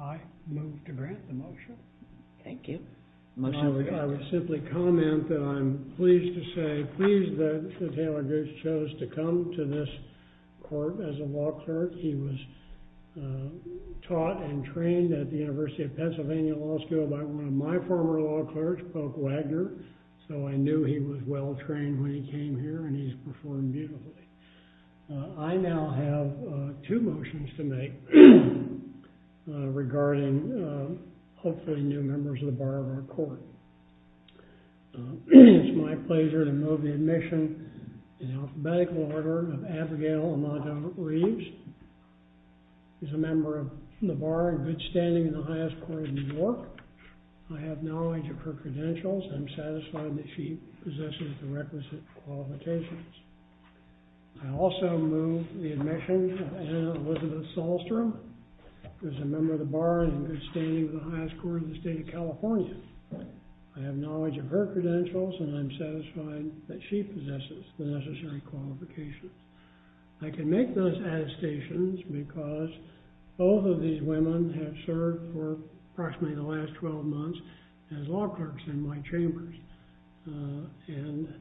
I move to grant the motion. Thank you. I would simply comment that I'm pleased to say, pleased that Taylor Gooch chose to come to this court as a law clerk. He was taught and trained at the University of Pennsylvania Law School by one of my former law clerks, Polk Wagner, so I knew he was well trained when he came here and he's performed beautifully. I now have two motions to make regarding hopefully new members of the bar of our court. It's my pleasure to move the admission in alphabetical order of Abigail Armando-Reeves, who's a member of the bar in good standing in the highest court in New York. I have knowledge of her credentials and I'm satisfied that she possesses the requisite qualifications. I also move the admission of Anna Elizabeth Sahlstrom, who's a member of the bar in good standing in the highest court in the state of California. I have knowledge of her credentials and I'm satisfied that she possesses the necessary qualifications. I can make those attestations because both of these women have served for approximately the last 12 months as law clerks in my chambers. And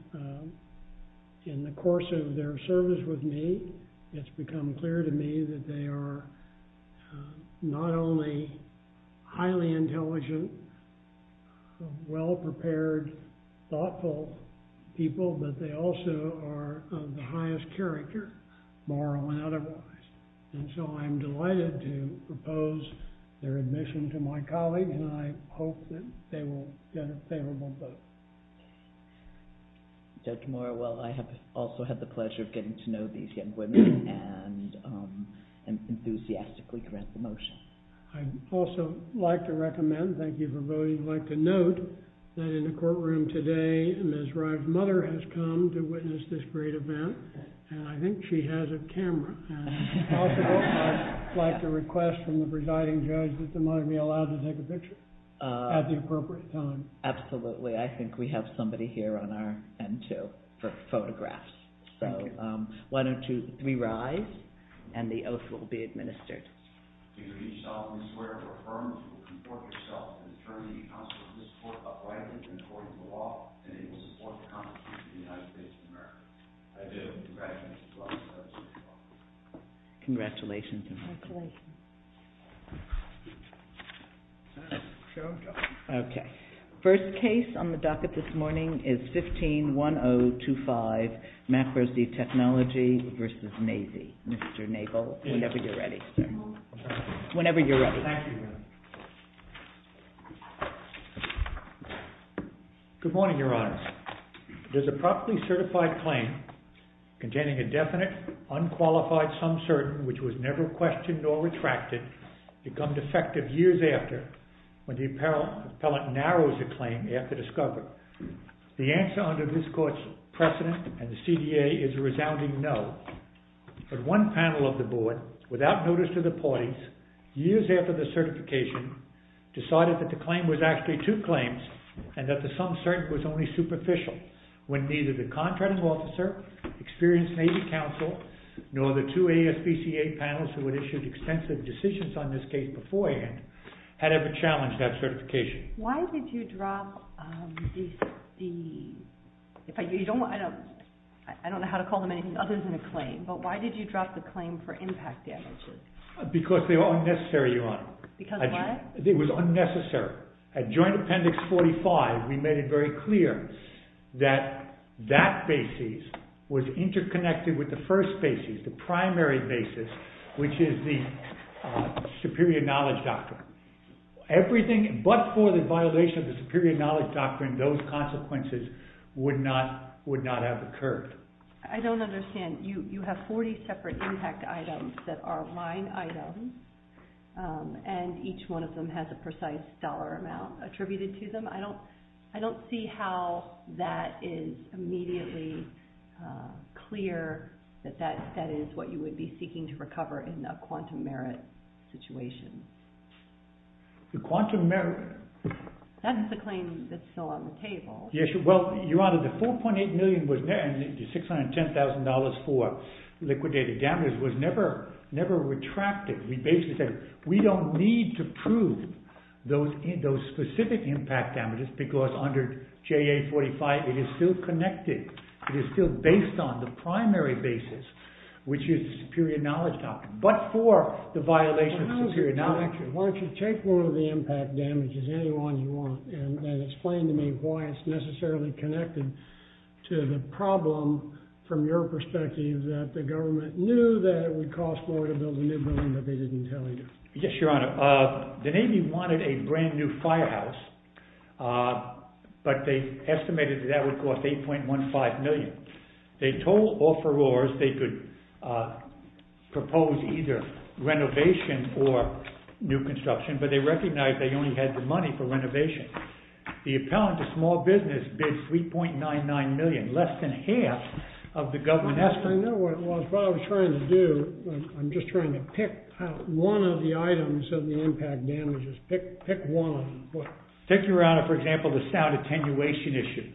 in the course of their service with me, it's become clear to me that they are not only highly intelligent, well-prepared, thoughtful people, but they also are of the highest character, moral and otherwise. And so I'm delighted to propose their admission to my colleague and I hope that they will get a favorable vote. Judge Morrell, I have also had the pleasure of getting to know these young women and enthusiastically grant the motion. I'd also like to recommend, thank you for voting, I'd like to note that in the courtroom today, Ms. Rye's mother has come to witness this great event and I think she has a camera. And if possible, I'd like to request from the presiding judge that the mother be allowed to take a picture at the appropriate time. Absolutely, I think we have somebody here on our end, too, for photographs. So why don't we rise and the oath will be administered. I pledge allegiance to the flag of the United States of America, and to the republic for which it stands, one nation, under God, indivisible, with liberty and justice for all. Congratulations. Okay. First case on the docket this morning is 15-1025, McPherson v. Technology v. Nazy. Mr. Nagel, whenever you're ready. Whenever you're ready. Thank you. Good morning, Your Honors. It is a properly certified claim containing a definite, unqualified, some certain, which was never questioned or retracted, become defective years after when the appellant narrows the claim after discovery. The answer under this court's precedent and the CDA is a resounding no. But one panel of the board, without notice to the parties, years after the certification, decided that the claim was actually two claims, and that the some certain was only superficial, when neither the contracting officer, experienced Nazy counsel, nor the two ASPCA panels who had issued extensive decisions on this case beforehand, had ever challenged that certification. Why did you drop the... I don't know how to call them anything other than a claim, but why did you drop the claim for impact damages? Because they were unnecessary, Your Honor. Because of what? It was unnecessary. At Joint Appendix 45, we made it very clear that that basis was interconnected with the first basis, the primary basis, which is the Superior Knowledge Doctrine. Everything but for the violation of the Superior Knowledge Doctrine, those consequences would not have occurred. I don't understand. You have 40 separate impact items that are line items, and each one of them has a precise dollar amount attributed to them. I don't see how that is immediately clear that that is what you would be seeking to recover in a quantum merit situation. The quantum merit... That's the claim that's still on the table. Well, Your Honor, the $4.8 million and the $610,000 for liquidated damages was never retracted. We basically said, we don't need to prove those specific impact damages because under JA 45, it is still connected. It is still based on the primary basis, which is the Superior Knowledge Doctrine, but for the violation of the Superior Knowledge Doctrine. Why don't you take one of the impact damages, any one you want, and then explain to me why it's necessarily connected to the problem, from your perspective, that the government knew that it would cost more to build a new building, but they didn't tell you. Yes, Your Honor. The Navy wanted a brand new firehouse, but they estimated that that would cost $8.15 million. They told offerors they could propose either renovation or new construction, but they recognized they only had the money for renovation. The appellant to small business bid $3.99 million, less than half of the government estimate. I know what it was. What I was trying to do, I'm just trying to pick out one of the items of the impact damages. Pick one. Take, Your Honor, for example, the sound attenuation issue.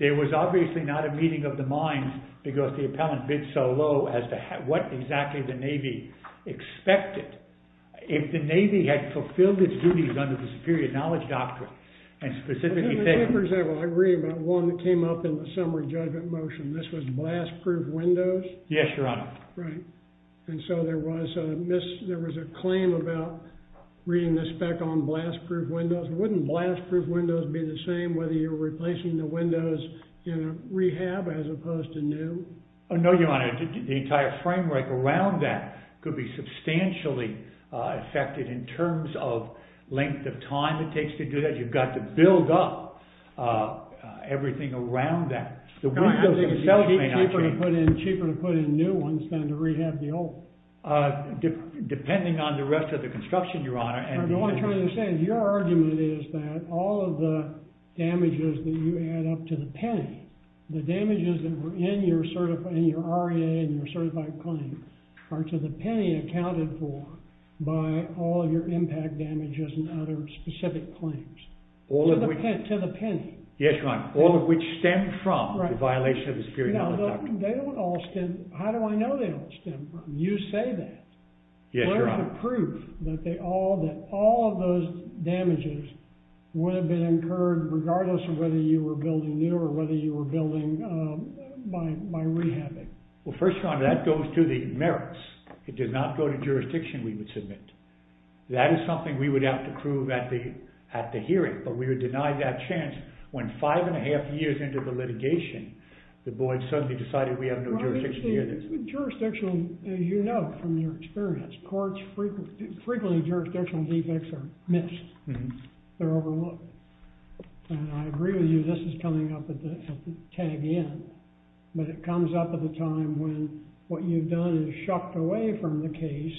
There was obviously not a meeting of the minds because the appellant bid so low as to what exactly the Navy expected. If the Navy had fulfilled its duties under the Superior Knowledge Doctrine, and specifically... For example, I agree about one that came up in the summary judgment motion. This was blast-proof windows. Yes, Your Honor. And so there was a claim about reading the spec on blast-proof windows. Wouldn't blast-proof windows be the same whether you're replacing the windows in a rehab as opposed to new? No, Your Honor. The entire framework around that could be substantially affected in terms of length of time it takes to do that. You've got to build up everything around that. Cheaper to put in new ones than to rehab the old. Depending on the rest of the construction, Your Honor. What I'm trying to say is your argument is that all of the damages that you add up to the penny, the damages that were in your R.E.A. and your certified claim are to the penny accounted for by all of your impact damages and other specific claims. To the penny. Yes, Your Honor. All of which stem from the violation of the Superior Knowledge Doctrine. How do I know they don't stem from? You say that. Yes, Your Honor. Where's the proof that all of those damages would have been incurred regardless of whether you were building new or whether you were building by rehabbing? Well, first, Your Honor, that goes to the merits. It does not go to jurisdiction, we would submit. That is something we would have to prove at the hearing. But we would deny that chance when five and a half years into the litigation, the board suddenly decided we have no jurisdiction either. Jurisdiction, as you know from your experience, courts frequently jurisdictional defects are missed. They're overlooked. And I agree with you, this is coming up at the tag end. But it comes up at the time when what you've done is shucked away from the case,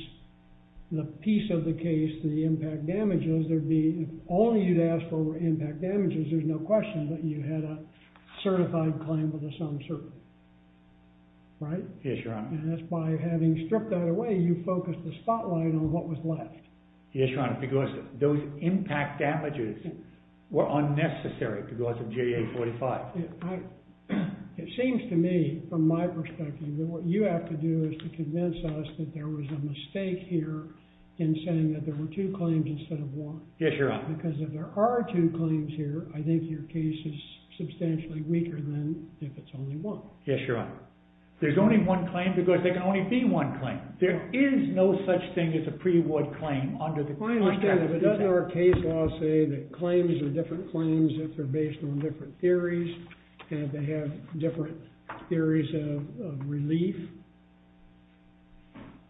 the piece of the case, the impact damages. There'd be, if only you'd asked for impact damages, there's no question that you had a certified claim with a sum certain. Right? Yes, Your Honor. And that's by having stripped that away, you focused the spotlight on what was left. Yes, Your Honor, because those impact damages were unnecessary because of JA 45. It seems to me, from my perspective, that what you have to do is to convince us that there was a mistake here in saying that there were two claims instead of one. Yes, Your Honor. Because if there are two claims here, I think your case is substantially weaker than if it's only one. Yes, Your Honor. There's only one claim because there can only be one claim. There is no such thing as a pre-award claim under the contract. I understand, but doesn't our case law say that claims are different claims if they're based on different theories and they have different theories of relief?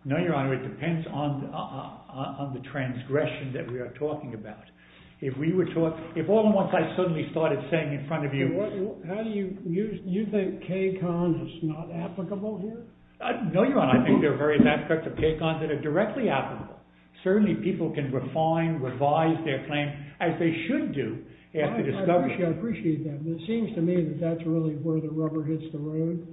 No, Your Honor, it depends on the transgression that we are talking about. If we were talking, if all at once I suddenly started saying in front of you. How do you, you think K-Con is not applicable here? No, Your Honor, I think there are various aspects of K-Con that are directly applicable. Certainly, people can refine, revise their claim as they should do after discovery. I appreciate that, but it seems to me that that's really where the rubber hits the road.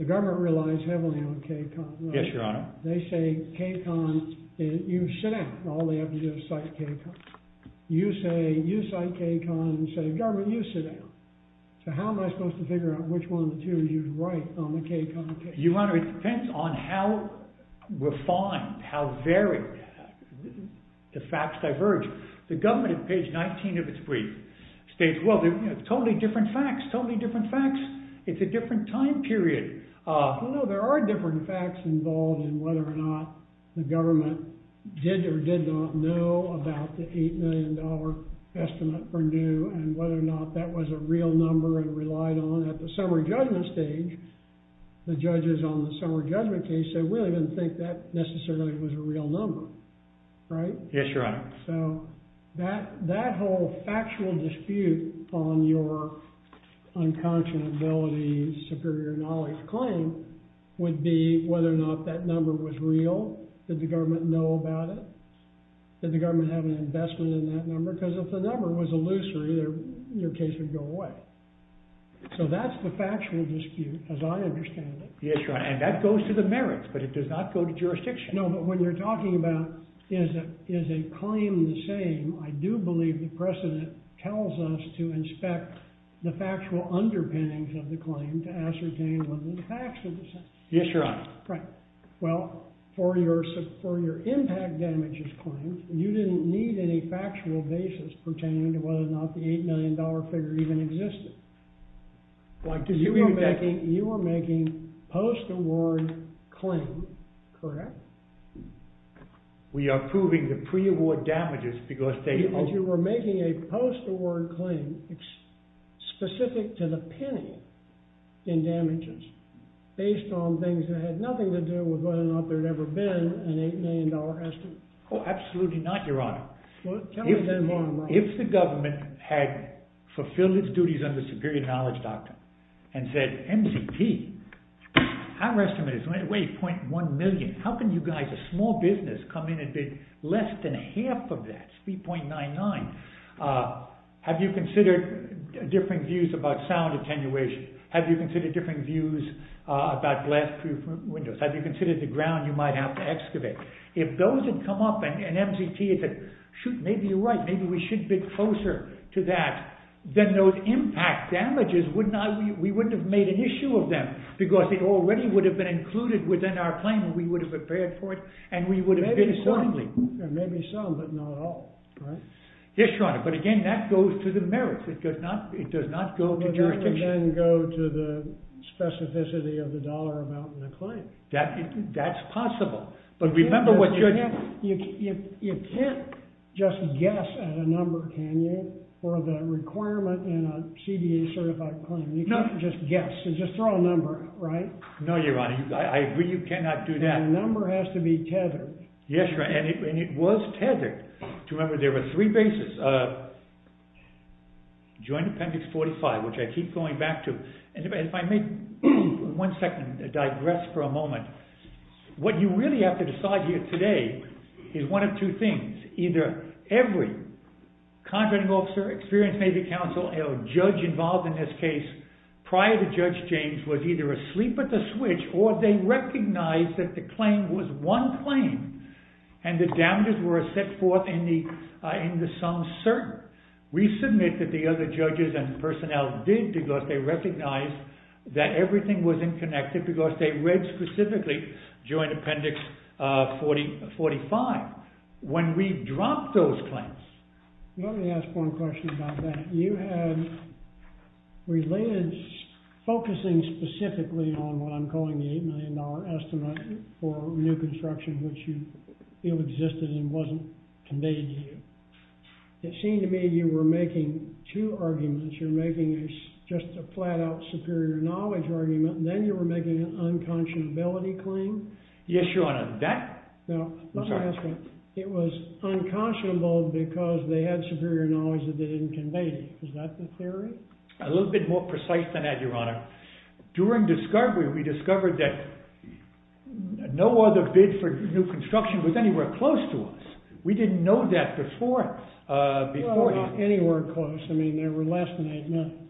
The government relies heavily on K-Con. Yes, Your Honor. They say K-Con, you sit down. All they have to do is cite K-Con. You say, you cite K-Con and say, government, you sit down. So how am I supposed to figure out which one of the two you write on the K-Con case? Your Honor, it depends on how refined, how varied the facts diverge. The government at page 19 of its brief states, well, they're totally different facts, totally different facts. It's a different time period. No, there are different facts involved in whether or not the government did or did not know about the $8 million estimate for new and whether or not that was a real number and relied on at the summary judgment stage. The judges on the summary judgment case said, we don't even think that necessarily was a real number. Right? Yes, Your Honor. So that whole factual dispute on your unconscionability, superior knowledge claim would be whether or not that number was real. Did the government know about it? Did the government have an investment in that number? Because if the number was illusory, your case would go away. So that's the factual dispute, as I understand it. Yes, Your Honor, and that goes to the merits, but it does not go to jurisdiction. No, but when you're talking about is a claim the same, I do believe the precedent tells us to inspect the factual underpinnings of the claim to ascertain whether the facts are the same. Yes, Your Honor. Right. Well, for your impact damages claim, you didn't need any factual basis pertaining to whether or not the $8 million figure even existed. Why? Because you were making post-award claim, correct? We are proving the pre-award damages because they... You were making a post-award claim specific to the penny in damages based on things that had nothing to do with whether or not there had ever been an $8 million estimate. Oh, absolutely not, Your Honor. Tell me then why. If the government had fulfilled its duties under superior knowledge doctrine and said, MZT, our estimate is 0.1 million. How can you guys, a small business, come in and bid less than half of that, 3.99? Have you considered different views about sound attenuation? Have you considered different views about glass-proof windows? Have you considered the ground you might have to excavate? If those had come up and MZT had said, shoot, maybe you're right, maybe we should bid closer to that, then those impact damages, we wouldn't have made an issue of them because they already would have been included within our claim and we would have prepared for it and we would have bid accordingly. Maybe some, but not all, right? Yes, Your Honor, but again, that goes to the merits. It does not go to jurisdiction. But it would then go to the specificity of the dollar amount in the claim. That's possible. But remember what you're doing. You can't just guess at a number, can you, for the requirement in a CBA certified claim. You can't just guess. You just throw a number out, right? No, Your Honor. I agree you cannot do that. The number has to be tethered. Yes, Your Honor, and it was tethered. Remember, there were three bases. Joint Appendix 45, which I keep going back to. If I may, one second, digress for a moment. What you really have to decide here today is one of two things. Either every contracting officer, experienced Navy counsel, or judge involved in this case prior to Judge James was either asleep at the switch or they recognized that the claim was one claim and the damages were set forth in the sum cert. We submit that the other judges and personnel did because they recognized that everything was inconnected because they read specifically Joint Appendix 45. When we dropped those claims. Let me ask one question about that. You had related, focusing specifically on what I'm calling the $8 million estimate for new construction, which you feel existed and wasn't conveyed to you. It seemed to me you were making two arguments. You're making just a flat-out superior knowledge argument, and then you were making an unconscionability claim. Yes, Your Honor. Now, let me ask one. It was unconscionable because they had superior knowledge that they didn't convey to you. Is that the theory? A little bit more precise than that, Your Honor. During discovery, we discovered that no other bid for new construction was anywhere close to us. We didn't know that before. Well, not anywhere close. I mean, they were less than $8 million.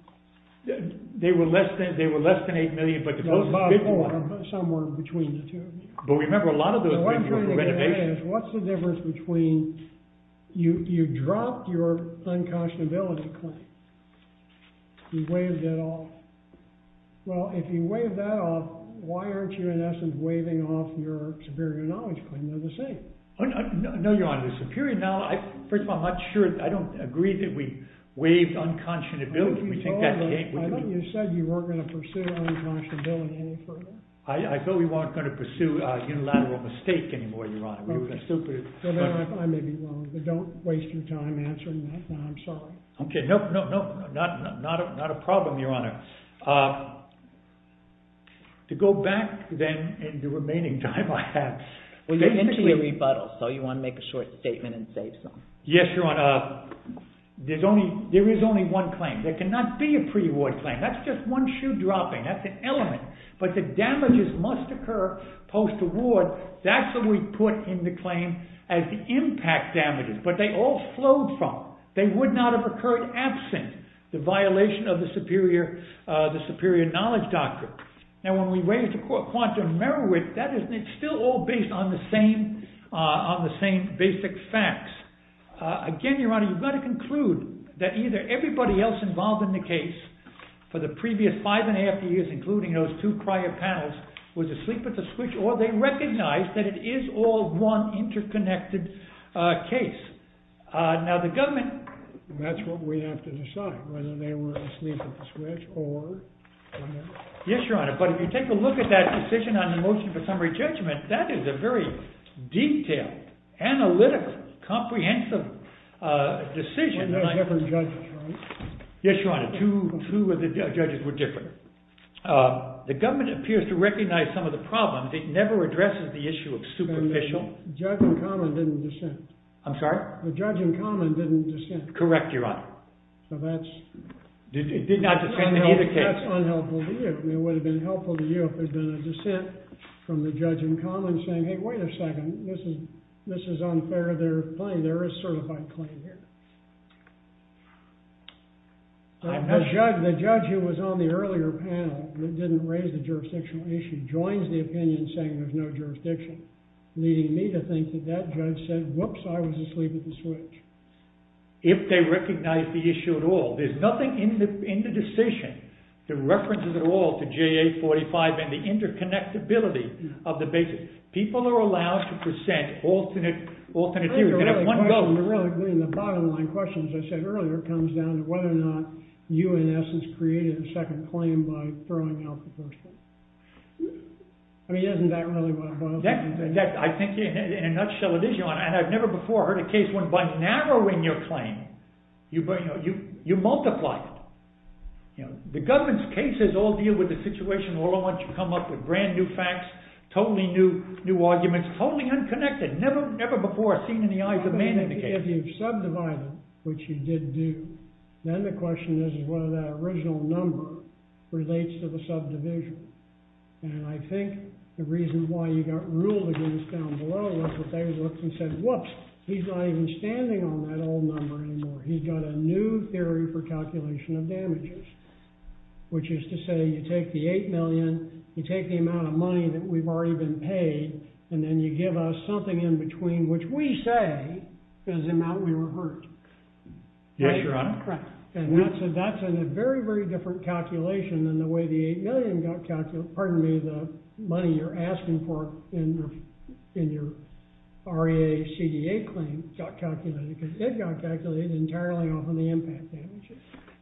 They were less than $8 million, but the closest bid was $8 million. Somewhere between the two of you. But remember, a lot of those bids were for renovation. What's the difference between you dropped your unconscionability claim, you waived it off. Well, if you waived that off, why aren't you, in essence, waiving off your superior knowledge claim? They're the same. No, Your Honor. The superior knowledge, first of all, I'm not sure. I don't agree that we waived unconscionability. I thought you said you weren't going to pursue unconscionability any further. I thought we weren't going to pursue unilateral mistake anymore, Your Honor. I may be wrong, but don't waste your time answering that. I'm sorry. Okay. No, no, no. Not a problem, Your Honor. To go back, then, in the remaining time I have. Well, you're into your rebuttal, so you want to make a short statement and save some. Yes, Your Honor. There is only one claim. There cannot be a pre-award claim. That's just one shoe dropping. That's an element. But the damages must occur post-award. That's what we put in the claim as the impact damages. But they all flowed from it. They would not have occurred absent the violation of the superior knowledge doctrine. Now, when we waive the quantum merit, it's still all based on the same basic facts. Again, Your Honor, you've got to conclude that either everybody else involved in the case for the previous five and a half years, including those two prior panels, was asleep at the switch, or they recognized that it is all one interconnected case. Now, the government... That's what we have to decide, whether they were asleep at the switch or... Yes, Your Honor. But if you take a look at that decision on the motion for summary judgment, that is a very detailed, analytical, comprehensive decision. Weren't there different judges, right? Yes, Your Honor. Two of the judges were different. The government appears to recognize some of the problems. It never addresses the issue of superficial... The judge in common didn't dissent. I'm sorry? The judge in common didn't dissent. Correct, Your Honor. So that's... It did not dissent in either case. That's unhelpful to you. It would have been helpful to you if there had been a dissent from the judge in common saying, hey, wait a second. This is unfair. They're playing. There is certified claim here. The judge who was on the earlier panel that didn't raise the jurisdictional issue joins the opinion saying there's no jurisdiction, leading me to think that that judge said, whoops, I was asleep at the switch. If they recognize the issue at all. There's nothing in the decision that references at all to JA 45 and the interconnectability of the basis. People are allowed to present alternate views. They have one vote. Your Honor, the bottom line question, as I said earlier, comes down to whether or not UNS has created a second claim by throwing out the first one. I mean, isn't that really what it boils down to? I think in a nutshell it is, Your Honor. And I've never before heard a case where by narrowing your claim, you multiply it. The government's cases all deal with the situation all at once you come up with brand new facts, totally new arguments, totally unconnected, never before seen in the eyes of man in the case. If you've subdivided, which you did do, then the question is whether that original number relates to the subdivision. And I think the reason why you got ruled against down below was that they looked and said, whoops, he's not even standing on that old number anymore. He's got a new theory for calculation of damages, which is to say you take the $8 million, you take the amount of money that we've already been paid, and then you give us something in between, which we say is the amount we were hurt. Yes, Your Honor. Right. And that's in a very, very different calculation than the way the $8 million got calculated, pardon me, the money you're asking for in your REA CDA claim got calculated, because it got calculated entirely off of the impact damages.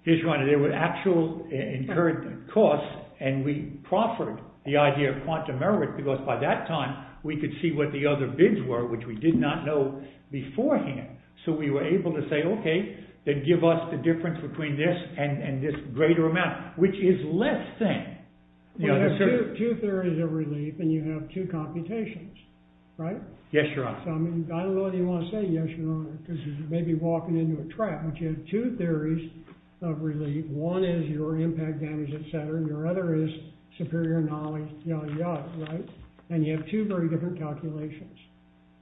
Yes, Your Honor. There were actual incurred costs, and we proffered the idea of quantum merit because by that time we could see what the other bids were, which we did not know beforehand. So we were able to say, okay, then give us the difference between this and this greater amount, which is less than. Well, you have two theories of relief, and you have two computations, right? Yes, Your Honor. I don't know what you want to say, Yes, Your Honor, because you may be walking into a trap, but you have two theories of relief. One is your impact damage, et cetera, and your other is superior knowledge, yada, yada, right? And you have two very different calculations.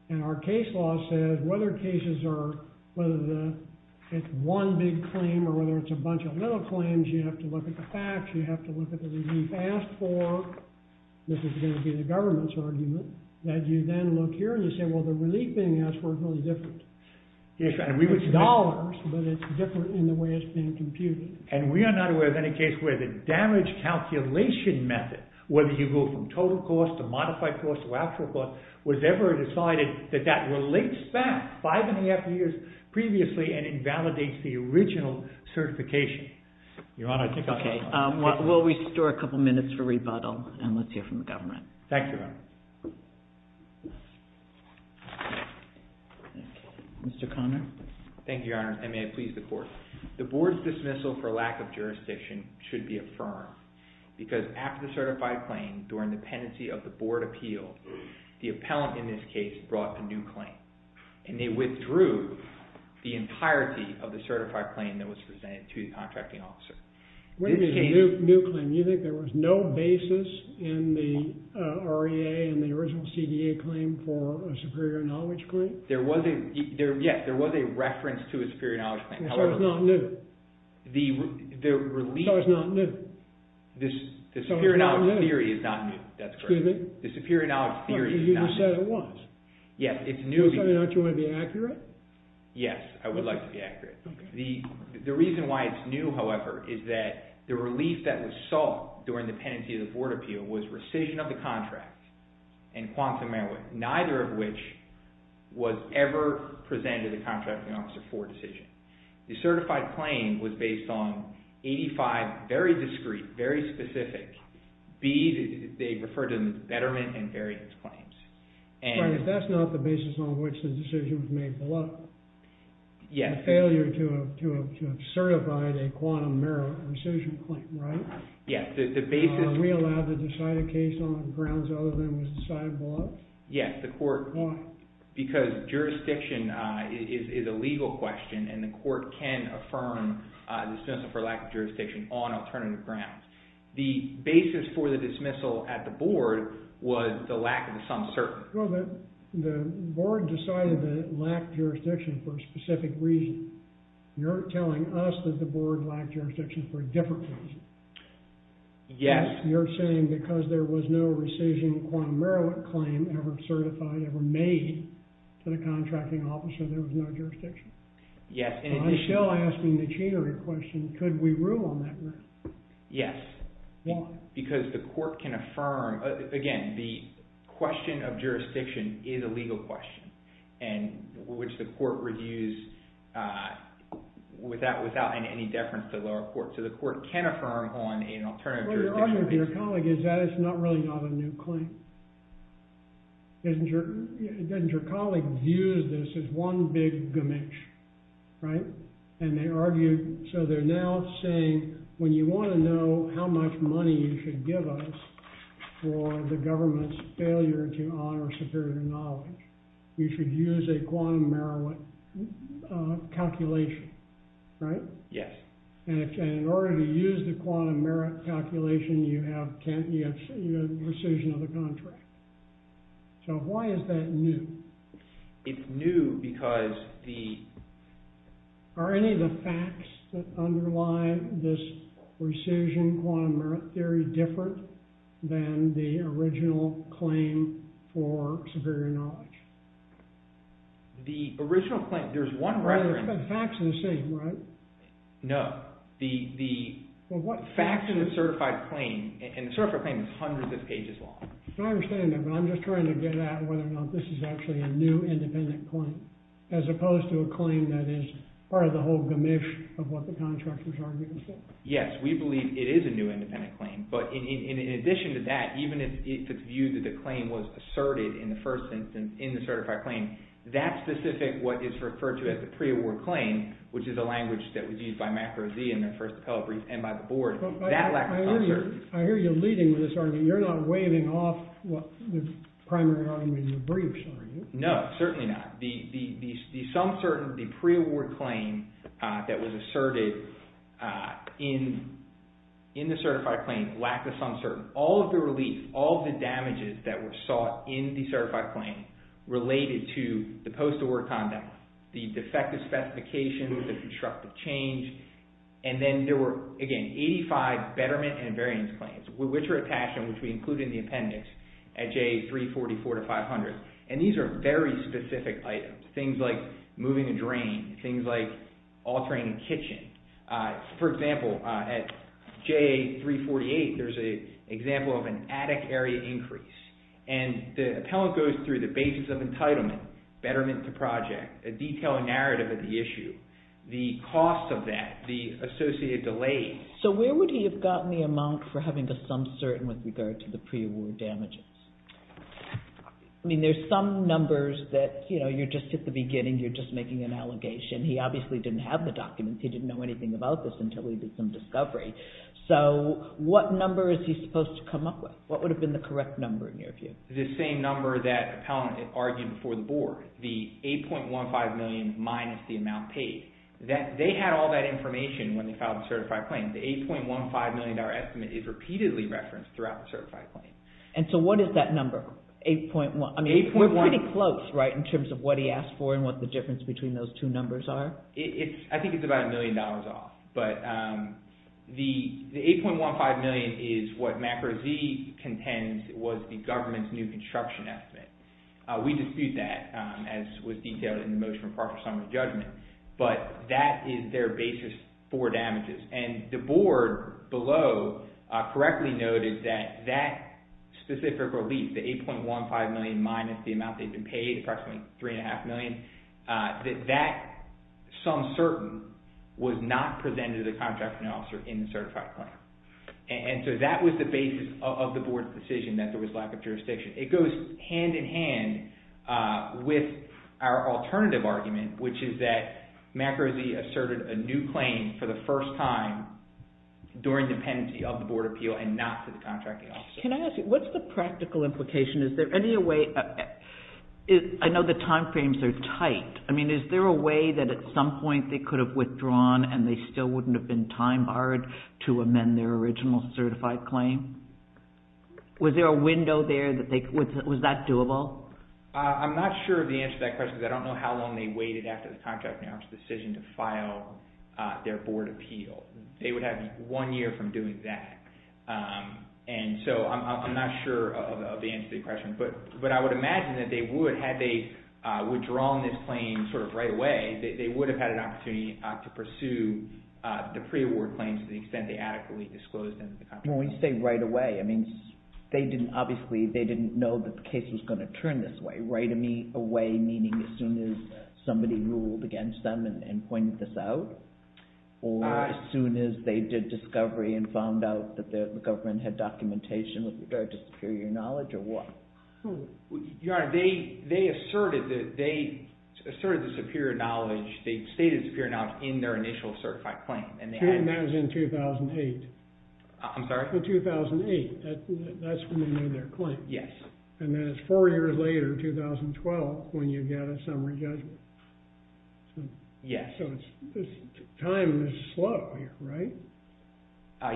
And our case law says whether cases are whether it's one big claim or whether it's a bunch of little claims, you have to look at the facts. You have to look at the relief asked for. This is going to be the government's argument, that you then look here and you say, well, the relief being asked for is really different. Yes, Your Honor. It's dollars, but it's different in the way it's being computed. And we are not aware of any case where the damage calculation method, whether you go from total cost to modified cost to actual cost, was ever decided that that relates back five and a half years previously and invalidates the original certification. Your Honor, I think I'm done. Okay. We'll restore a couple minutes for rebuttal, and let's hear from the government. Thank you, Your Honor. Mr. Conner. Thank you, Your Honor, and may it please the Court. The Board's dismissal for lack of jurisdiction should be affirmed because after the certified claim, during the pendency of the Board appeal, the appellant in this case brought a new claim, and they withdrew the entirety of the certified claim that was presented to the contracting officer. What do you mean a new claim? You think there was no basis in the REA and the original CDA claim for a superior knowledge claim? Yes, there was a reference to a superior knowledge claim. So it's not new? So it's not new? The superior knowledge theory is not new. That's correct. Excuse me? The superior knowledge theory is not new. You said it was. Yes, it's new. Aren't you going to be accurate? Yes, I would like to be accurate. The reason why it's new, however, is that the relief that was sought during the pendency of the Board appeal was rescission of the contract and quantum error, neither of which was ever presented to the contracting officer for decision. The certified claim was based on 85 very discreet, very specific, B, they referred to betterment and variance claims. But that's not the basis on which the decision was made below it. Yes. The failure to have certified a quantum error rescission claim, right? Yes, the basis. Are we allowed to decide a case on grounds other than it was decided below it? Yes, the court. Why? Because jurisdiction is a legal question and the court can affirm the decision for lack of jurisdiction on alternative grounds. The basis for the dismissal at the Board was the lack of some certainty. Well, the Board decided that it lacked jurisdiction for a specific reason. You're telling us that the Board lacked jurisdiction for a different reason. Yes. You're saying because there was no rescission quantum error claim ever certified, ever made to the contracting officer, there was no jurisdiction. Yes. I'm still asking the cheater a question. Could we rule on that? Yes. Why? Because the court can affirm. Again, the question of jurisdiction is a legal question and which the court reviews without any deference to the lower court. So the court can affirm on an alternative jurisdiction. What you're arguing to your colleague is that it's really not a new claim. Doesn't your colleague view this as one big gamish, right? So they're now saying when you want to know how much money you should give us for the government's failure to honor superior knowledge, you should use a quantum error calculation, right? Yes. And in order to use the quantum error calculation, you have rescission of the contract. So why is that new? It's new because the— Are any of the facts that underlie this rescission quantum error theory different than the original claim for superior knowledge? The original claim, there's one reference— But the facts are the same, right? No. The facts in the certified claim, and the certified claim is hundreds of pages long. I understand that, but I'm just trying to get at whether or not this is actually a new independent claim as opposed to a claim that is part of the whole gamish of what the contractors are arguing. Yes, we believe it is a new independent claim. But in addition to that, even if it's viewed that the claim was asserted in the first instance in the certified claim, that specific what is referred to as the pre-award claim, which is a language that was used by MACRO-Z in their first appellate brief and by the board, that lack of— I hear you leading with this argument. You're not waving off the primary argument in the briefs, are you? No, certainly not. The pre-award claim that was asserted in the certified claim, lack of some sort, all of the relief, all of the damages that were sought in the certified claim related to the post-award conduct, the defective specifications, the constructive change, and then there were, again, 85 betterment and invariance claims, which are attached and which we include in the appendix at J344-500. And these are very specific items, things like moving a drain, things like altering a kitchen. For example, at J348, there's an example of an attic area increase. And the appellant goes through the basis of entitlement, betterment to project, a detailed narrative of the issue, the cost of that, the associated delay. So where would he have gotten the amount for having a sum certain with regard to the pre-award damages? I mean, there's some numbers that, you know, you're just at the beginning, you're just making an allegation. He obviously didn't have the documents. He didn't know anything about this until he did some discovery. So what number is he supposed to come up with? What would have been the correct number in your view? The same number that the appellant argued before the board, the $8.15 million minus the amount paid. They had all that information when they filed the certified claim. The $8.15 million estimate is repeatedly referenced throughout the certified claim. And so what is that number? We're pretty close, right, in terms of what he asked for and what the difference between those two numbers are? I think it's about a million dollars off. But the $8.15 million is what MACRA-Z contends was the government's new construction estimate. We dispute that, as was detailed in the motion in part for summary judgment. But that is their basis for damages. And the board below correctly noted that that specific relief, the $8.15 million minus the amount they'd been paid, approximately $3.5 million, that that, some certain, was not presented to the contracting officer in the certified claim. And so that was the basis of the board's decision that there was lack of jurisdiction. It goes hand-in-hand with our alternative argument, which is that MACRA-Z asserted a new claim for the first time during dependency of the board appeal and not to the contracting officer. Can I ask you, what's the practical implication? Is there any way... I know the time frames are tight. I mean, is there a way that at some point they could have withdrawn and they still wouldn't have been time-barred to amend their original certified claim? Was there a window there that they... Was that doable? I'm not sure of the answer to that question because I don't know how long they waited after the contracting officer's decision to file their board appeal. They would have one year from doing that. And so I'm not sure of the answer to the question. But I would imagine that they would, had they withdrawn this claim sort of right away, they would have had an opportunity to pursue the pre-award claims to the extent they adequately disclosed them to the contracting officer. When we say right away, I mean, they didn't... Obviously, they didn't know that the case was going to turn this way. Right away meaning as soon as somebody ruled against them and pointed this out? Or as soon as they did discovery and found out that the government had documentation with regard to superior knowledge, or what? Your Honor, they asserted the superior knowledge. They stated superior knowledge in their initial certified claim. And that was in 2008. I'm sorry? In 2008. That's when they made their claim. Yes. And then it's four years later, 2012, when you get a summary judgment. Yes. So time is slow here, right?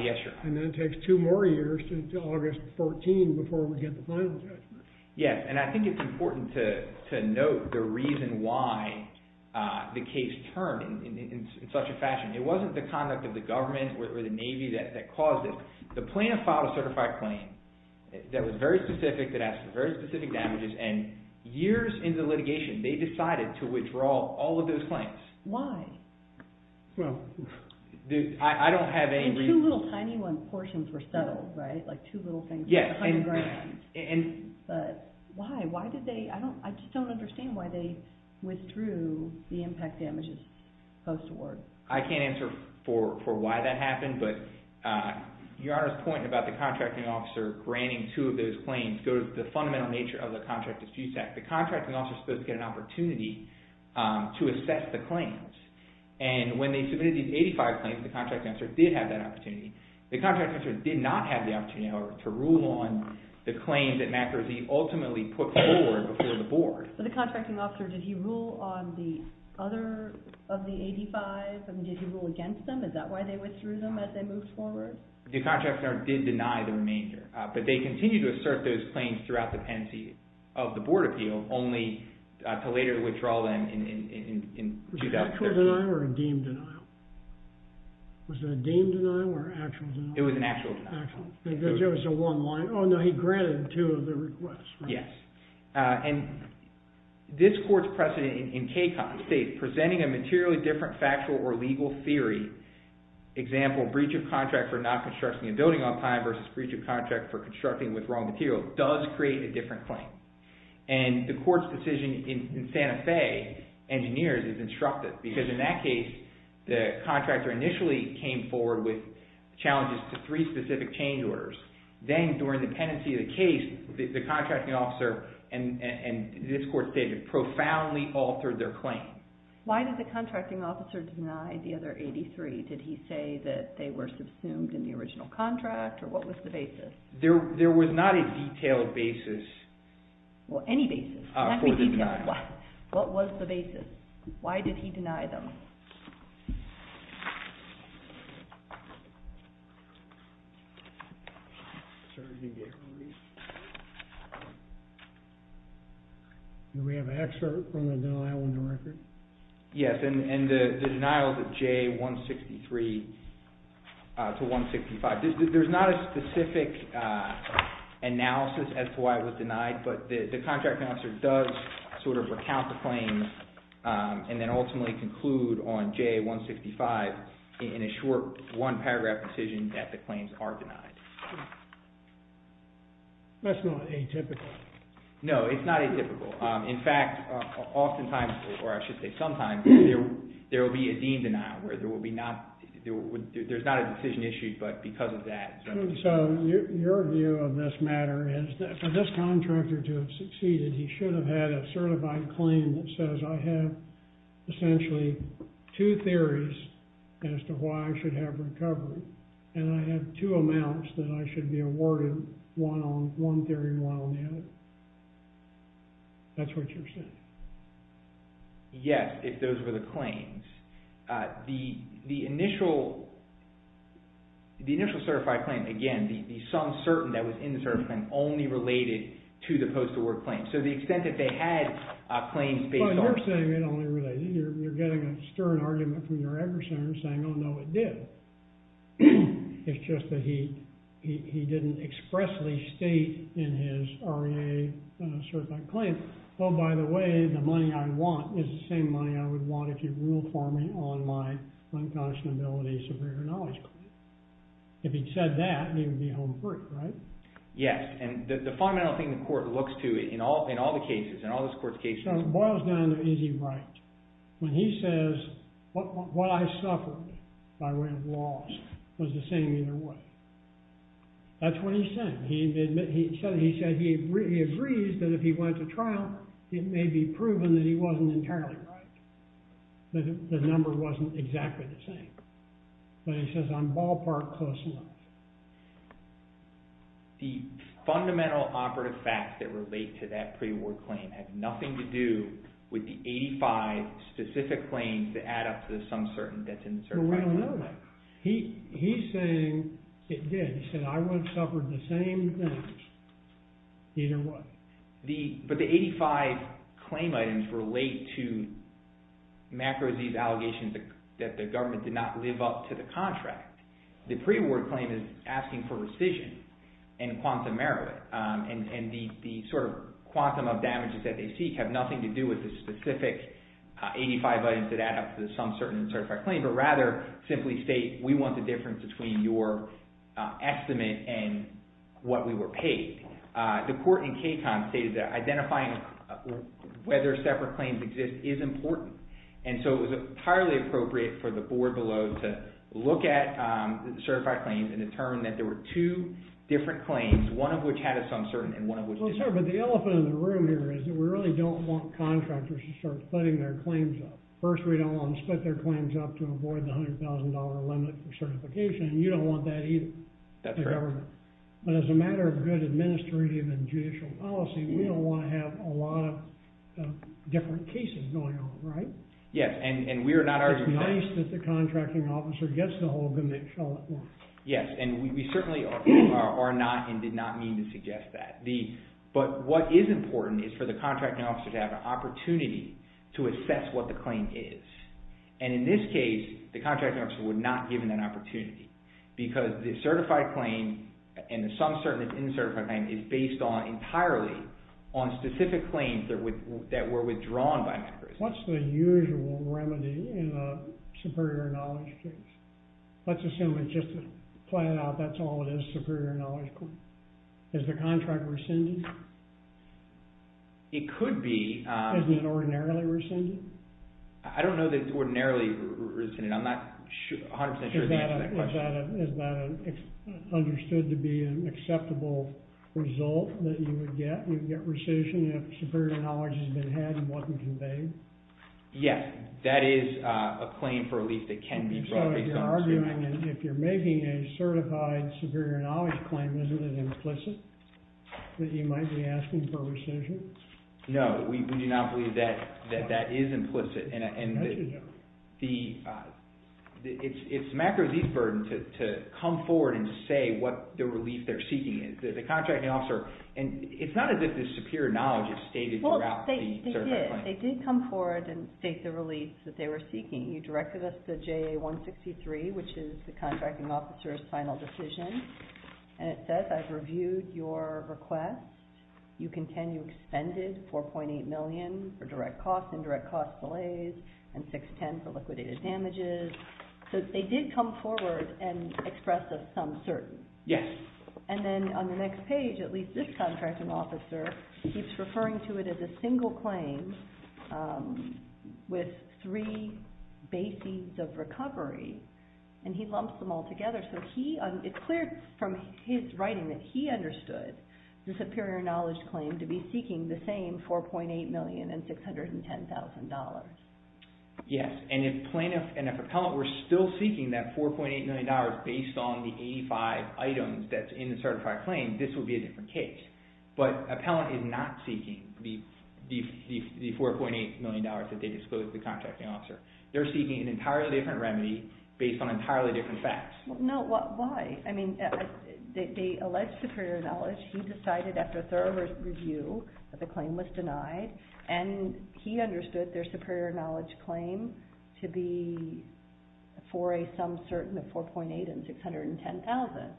Yes, Your Honor. And then it takes two more years to August 14 before we get the final judgment. Yes, and I think it's important to note the reason why the case turned in such a fashion. It wasn't the conduct of the government or the Navy that caused it. The plaintiff filed a certified claim that was very specific, that has very specific damages, and years into litigation, they decided to withdraw all of those claims. Why? I don't have any reason. And two little tiny portions were settled, right? Like two little things. Yes. But why? I just don't understand why they withdrew the impact damages post-award. I can't answer for why that happened, but Your Honor's point about the contracting officer granting two of those claims goes to the fundamental nature of the contract dispute act. The contracting officer is supposed to get an opportunity to assess the claims. And when they submitted these 85 claims, the contracting officer did have that opportunity. The contracting officer did not have the opportunity to rule on the claims that MacRosie ultimately put forward before the board. But the contracting officer, did he rule on the other of the 85? I mean, did he rule against them? Is that why they withdrew them as they moved forward? The contracting officer did deny the remainder. But they continued to assert those claims throughout the pendency of the board appeal, only to later withdraw them in 2013. Was it an actual denial or a deemed denial? Was it a deemed denial or an actual denial? It was an actual denial. Because there was a one-line, oh, no, he granted two of the requests, right? Yes. And this court's precedent in KCON states, presenting a materially different factual or legal theory, example, breach of contract for not constructing a building on time versus breach of contract for constructing with wrong material, does create a different claim. And the court's decision in Santa Fe, Engineers, is instructive. Because in that case, the contractor initially came forward with challenges to three specific change orders. Then during the pendency of the case, the contracting officer and this court stated, it profoundly altered their claim. Why did the contracting officer deny the other 83? Did he say that they were subsumed in the original contract? Or what was the basis? There was not a detailed basis. Well, any basis. Can't be detailed. What was the basis? Why did he deny them? Do we have an excerpt from the denial in the record? Yes. And the denial is a J163 to 165. There's not a specific analysis as to why it was denied. But the contract officer does sort of recount the claims a breach of contract. On J165, in a short one paragraph decision, that the claims are denied. That's not atypical. No, it's not atypical. In fact, oftentimes, or I should say sometimes, there will be a dean denial, where there will be not, there's not a decision issued, but because of that. So your view of this matter is that for this contractor to have succeeded, he should have had a certified claim that says, I have essentially two theories as to why I should have recovery. And I have two amounts that I should be awarded, one theory and one on the other. That's what you're saying. Yes, if those were the claims. The initial certified claim, again, the some certain that was in the certified claim only related to the post-award claim. So the extent that they had a claim based on. But you're saying it only related. You're getting a stern argument from your every center saying, oh, no, it did. It's just that he didn't expressly state in his REA certified claim, oh, by the way, the money I want is the same money I would want if you ruled for me on my unconscionability superior knowledge claim. If he'd said that, he would be home free, right? Yes. And the fundamental thing the court looks to in all the cases, in all this court's cases. So it boils down to, is he right? When he says, what I suffered by way of laws was the same either way. That's what he's saying. He said he agrees that if he went to trial, it may be proven that he wasn't entirely right. The number wasn't exactly the same. But he says, I'm ballpark close enough. The fundamental operative facts that relate to that pre-award claim have nothing to do with the 85 specific claims that add up to some certain that's in the certified claim. Well, we don't know that. He's saying it did. He said, I once suffered the same thing either way. But the 85 claim items relate to macro disease allegations that the government did not live up to the contract. The pre-award claim is asking for rescission and quantum merit. And the quantum of damages that they seek have nothing to do with the specific 85 items that add up to some certain certified claim, but rather simply state, we want the difference between your estimate and what we were paid. The court in Katon stated that identifying whether separate claims exist is important. And so it was entirely appropriate for the board below to look at certified claims and determine that there were two different claims, one of which had a some certain, and one of which didn't. Well, sir, but the elephant in the room here is that we really don't want contractors to start splitting their claims up. First, we don't want to split their claims up to avoid the $100,000 limit for certification. And you don't want that either. That's right. But as a matter of good administrative and judicial policy, we don't want to have a lot of different cases going on, right? Yes. And we are not arguing that. It's nice that the contracting officer gets the hold of them, but it's not worth it. Yes, and we certainly are not and did not mean to suggest that. But what is important is for the contracting officer to have an opportunity to assess what the claim is. And in this case, the contracting officer would not be given that opportunity, because the certified claim and the some certain and uncertified claim is based entirely on specific claims that were withdrawn by MACRIS. What's the usual remedy in a superior knowledge case? Let's assume, just to plan it out, that's all it is, superior knowledge claim. Is the contract rescinded? It could be. Isn't it ordinarily rescinded? I don't know that it's ordinarily rescinded. I'm not 100% sure I can answer that question. Is that understood to be an acceptable result that you would get? You would get rescission if superior knowledge has been had and wasn't conveyed? Yes, that is a claim for relief that can be brought based on superior knowledge. So you're arguing that if you're making a certified superior knowledge claim, isn't it implicit that you might be asking for rescission? No, we do not believe that that is implicit. And it's MACRIS' burden to come forward and say what the relief they're seeking is. The contracting officer, and it's not as if this superior knowledge is stated throughout the certified claim. They did come forward and state the relief that they were seeking. You directed us to JA-163, which is the contracting officer's final decision. And it says, I've reviewed your request. You contend you expended $4.8 million for direct costs, indirect cost delays, and $610 for liquidated damages. So they did come forward and express a sum certain. Yes. And then on the next page, at least this contracting officer keeps referring to it as a single claim with three bases of recovery. And he lumps them all together. So it's clear from his writing that he understood the superior knowledge claim to be seeking the same $4.8 million and $610,000. Yes. And if plaintiff and if appellant were still seeking that $4.8 million based on the 85 items that's in the certified claim, this would be a different case. But appellant is not seeking the $4.8 million that they disclosed to the contracting officer. They're seeking an entirely different remedy based on entirely different facts. No, why? I mean, they allege superior knowledge. He decided after a thorough review that the claim was denied. And he understood their superior knowledge claim to be for a sum certain of $4.8 and $610,000.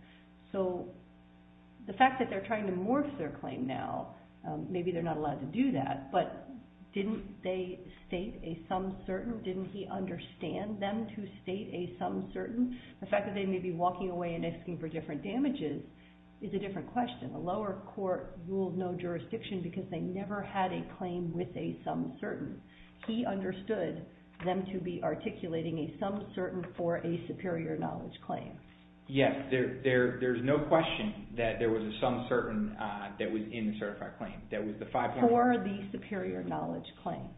So the fact that they're trying to morph their claim now, maybe they're not allowed to do that. But didn't they state a sum certain? Didn't he understand them to state a sum certain? The fact that they may be walking away and asking for different damages is a different question. The lower court ruled no jurisdiction because they never had a claim with a sum certain. He understood them to be articulating a sum certain for a superior knowledge claim. Yes, there's no question that there was a sum certain that was in the certified claim. For the superior knowledge claim.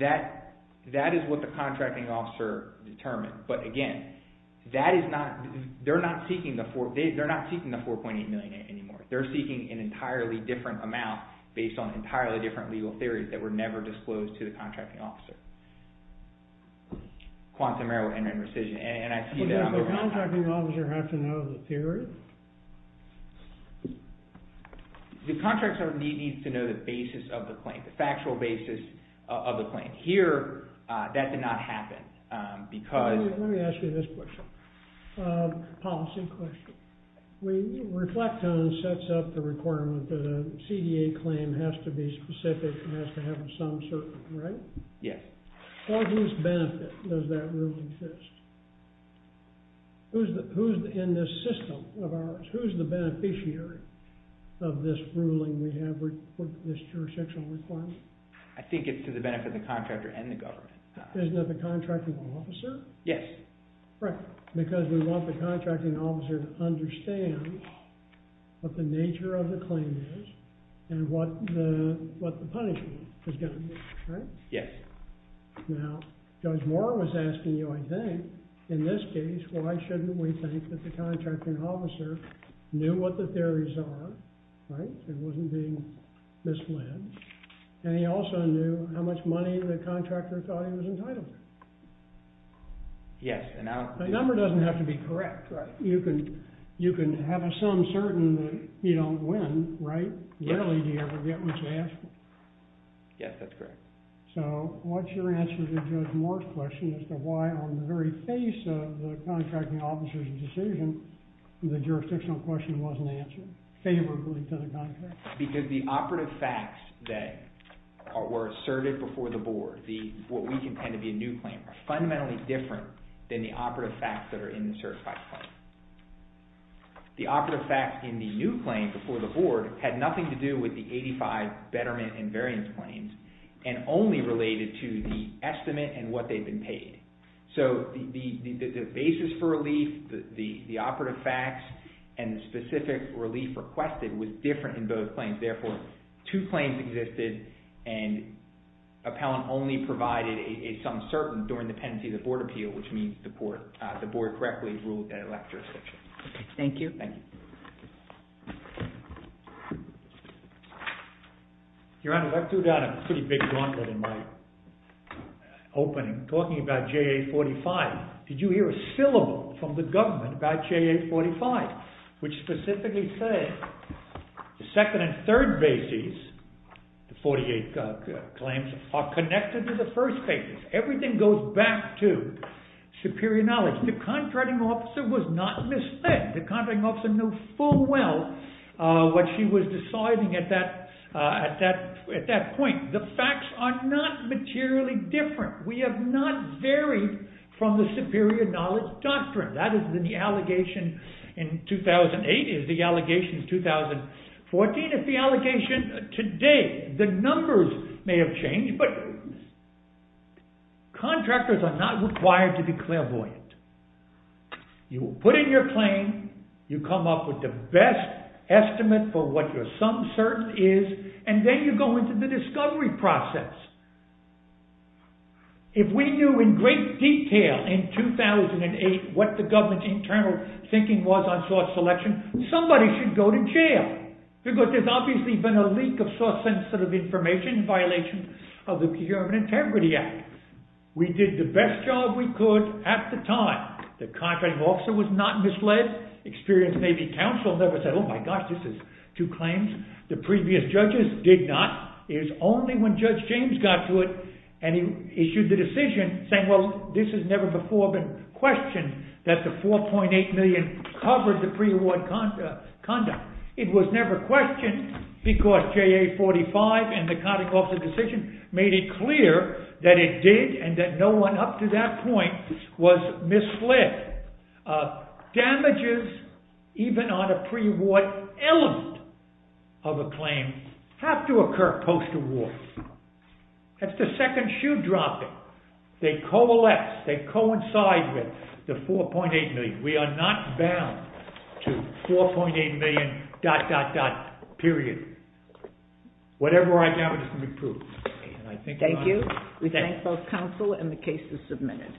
That is what the contracting officer determined. But again, they're not seeking the $4.8 million anymore. They're seeking an entirely different amount based on entirely different legal theories that were never disclosed to the contracting officer. Quantum error and rescission. Does the contracting officer have to know the theory? The contracting officer needs to know the basis of the claim, the factual basis of the claim. Here, that did not happen because... Let me ask you this question, a policy question. Reflecton sets up the requirement that a CDA claim has to be specific and has to have a sum certain, right? Yes. For whose benefit does that rule exist? Who's in this system of ours? Who's the beneficiary of this ruling we have for this jurisdictional requirement? I think it's to the benefit of the contractor and the government. Isn't it the contracting officer? Yes. Right, because we want the contracting officer to understand what the nature of the claim is and what the punishment is going to be, right? Yes. Now, Judge Moore was asking you, I think, in this case, why shouldn't we think that the contracting officer knew what the theories are, right? It wasn't being misled. And he also knew how much money the contractor thought he was entitled to. Yes. The number doesn't have to be correct. You can have a sum certain that you don't win, right? Rarely do you ever get much cash. Yes, that's correct. So what's your answer to Judge Moore's question as to why on the very face of the contracting officer's decision the jurisdictional question wasn't answered favorably to the contractor? Because the operative facts that were asserted before the board, what we contend to be a new claim, are fundamentally different than the operative facts that are in the certified claim. The operative facts in the new claim before the board had nothing to do with the 85 betterment and variance claims and only related to the estimate and what they've been paid. So the basis for relief, the operative facts, and the specific relief requested was different in both claims. Therefore, two claims existed and appellant only provided a sum certain during the pendency of the board appeal, which means the board correctly ruled that it lacked jurisdiction. Okay, thank you. Thank you. Your Honor, I threw down a pretty big gauntlet in my opening talking about JA 45. Did you hear a syllable from the government about JA 45, which specifically said the second and third bases, the 48 claims, are connected to the first cases. Everything goes back to superior knowledge. The contracting officer was not misled. The contracting officer knew full well what she was deciding at that point. The facts are not materially different. We have not varied from the superior knowledge doctrine. That is in the allegation in 2008, is the allegation in 2014. If the allegation today, the numbers may have changed, but contractors are not required to be clairvoyant. You put in your claim, you come up with the best estimate for what your sum certain is, and then you go into the discovery process. If we knew in great detail in 2008 what the government's internal thinking was on source selection, somebody should go to jail because there's obviously been a leak of source sensitive information in violation of the Peer and Integrity Act. We did the best job we could at the time. The contracting officer was not misled. Experienced Navy counsel never said, oh my gosh, this is two claims. The previous judges did not. It was only when Judge James got to it and he issued the decision saying, well, this has never before been questioned that the $4.8 million covered the pre-award conduct. It was never questioned because JA 45 and the contracting officer decision made it clear that it did and that no one up to that point was misled. Damages, even on a pre-award element of a claim, have to occur post-award. That's the second shoe dropping. They coalesce, they coincide with the $4.8 million. We are not bound to $4.8 million dot dot dot, period. Whatever I gather can be proved. Thank you. We thank both counsel and the case is submitted.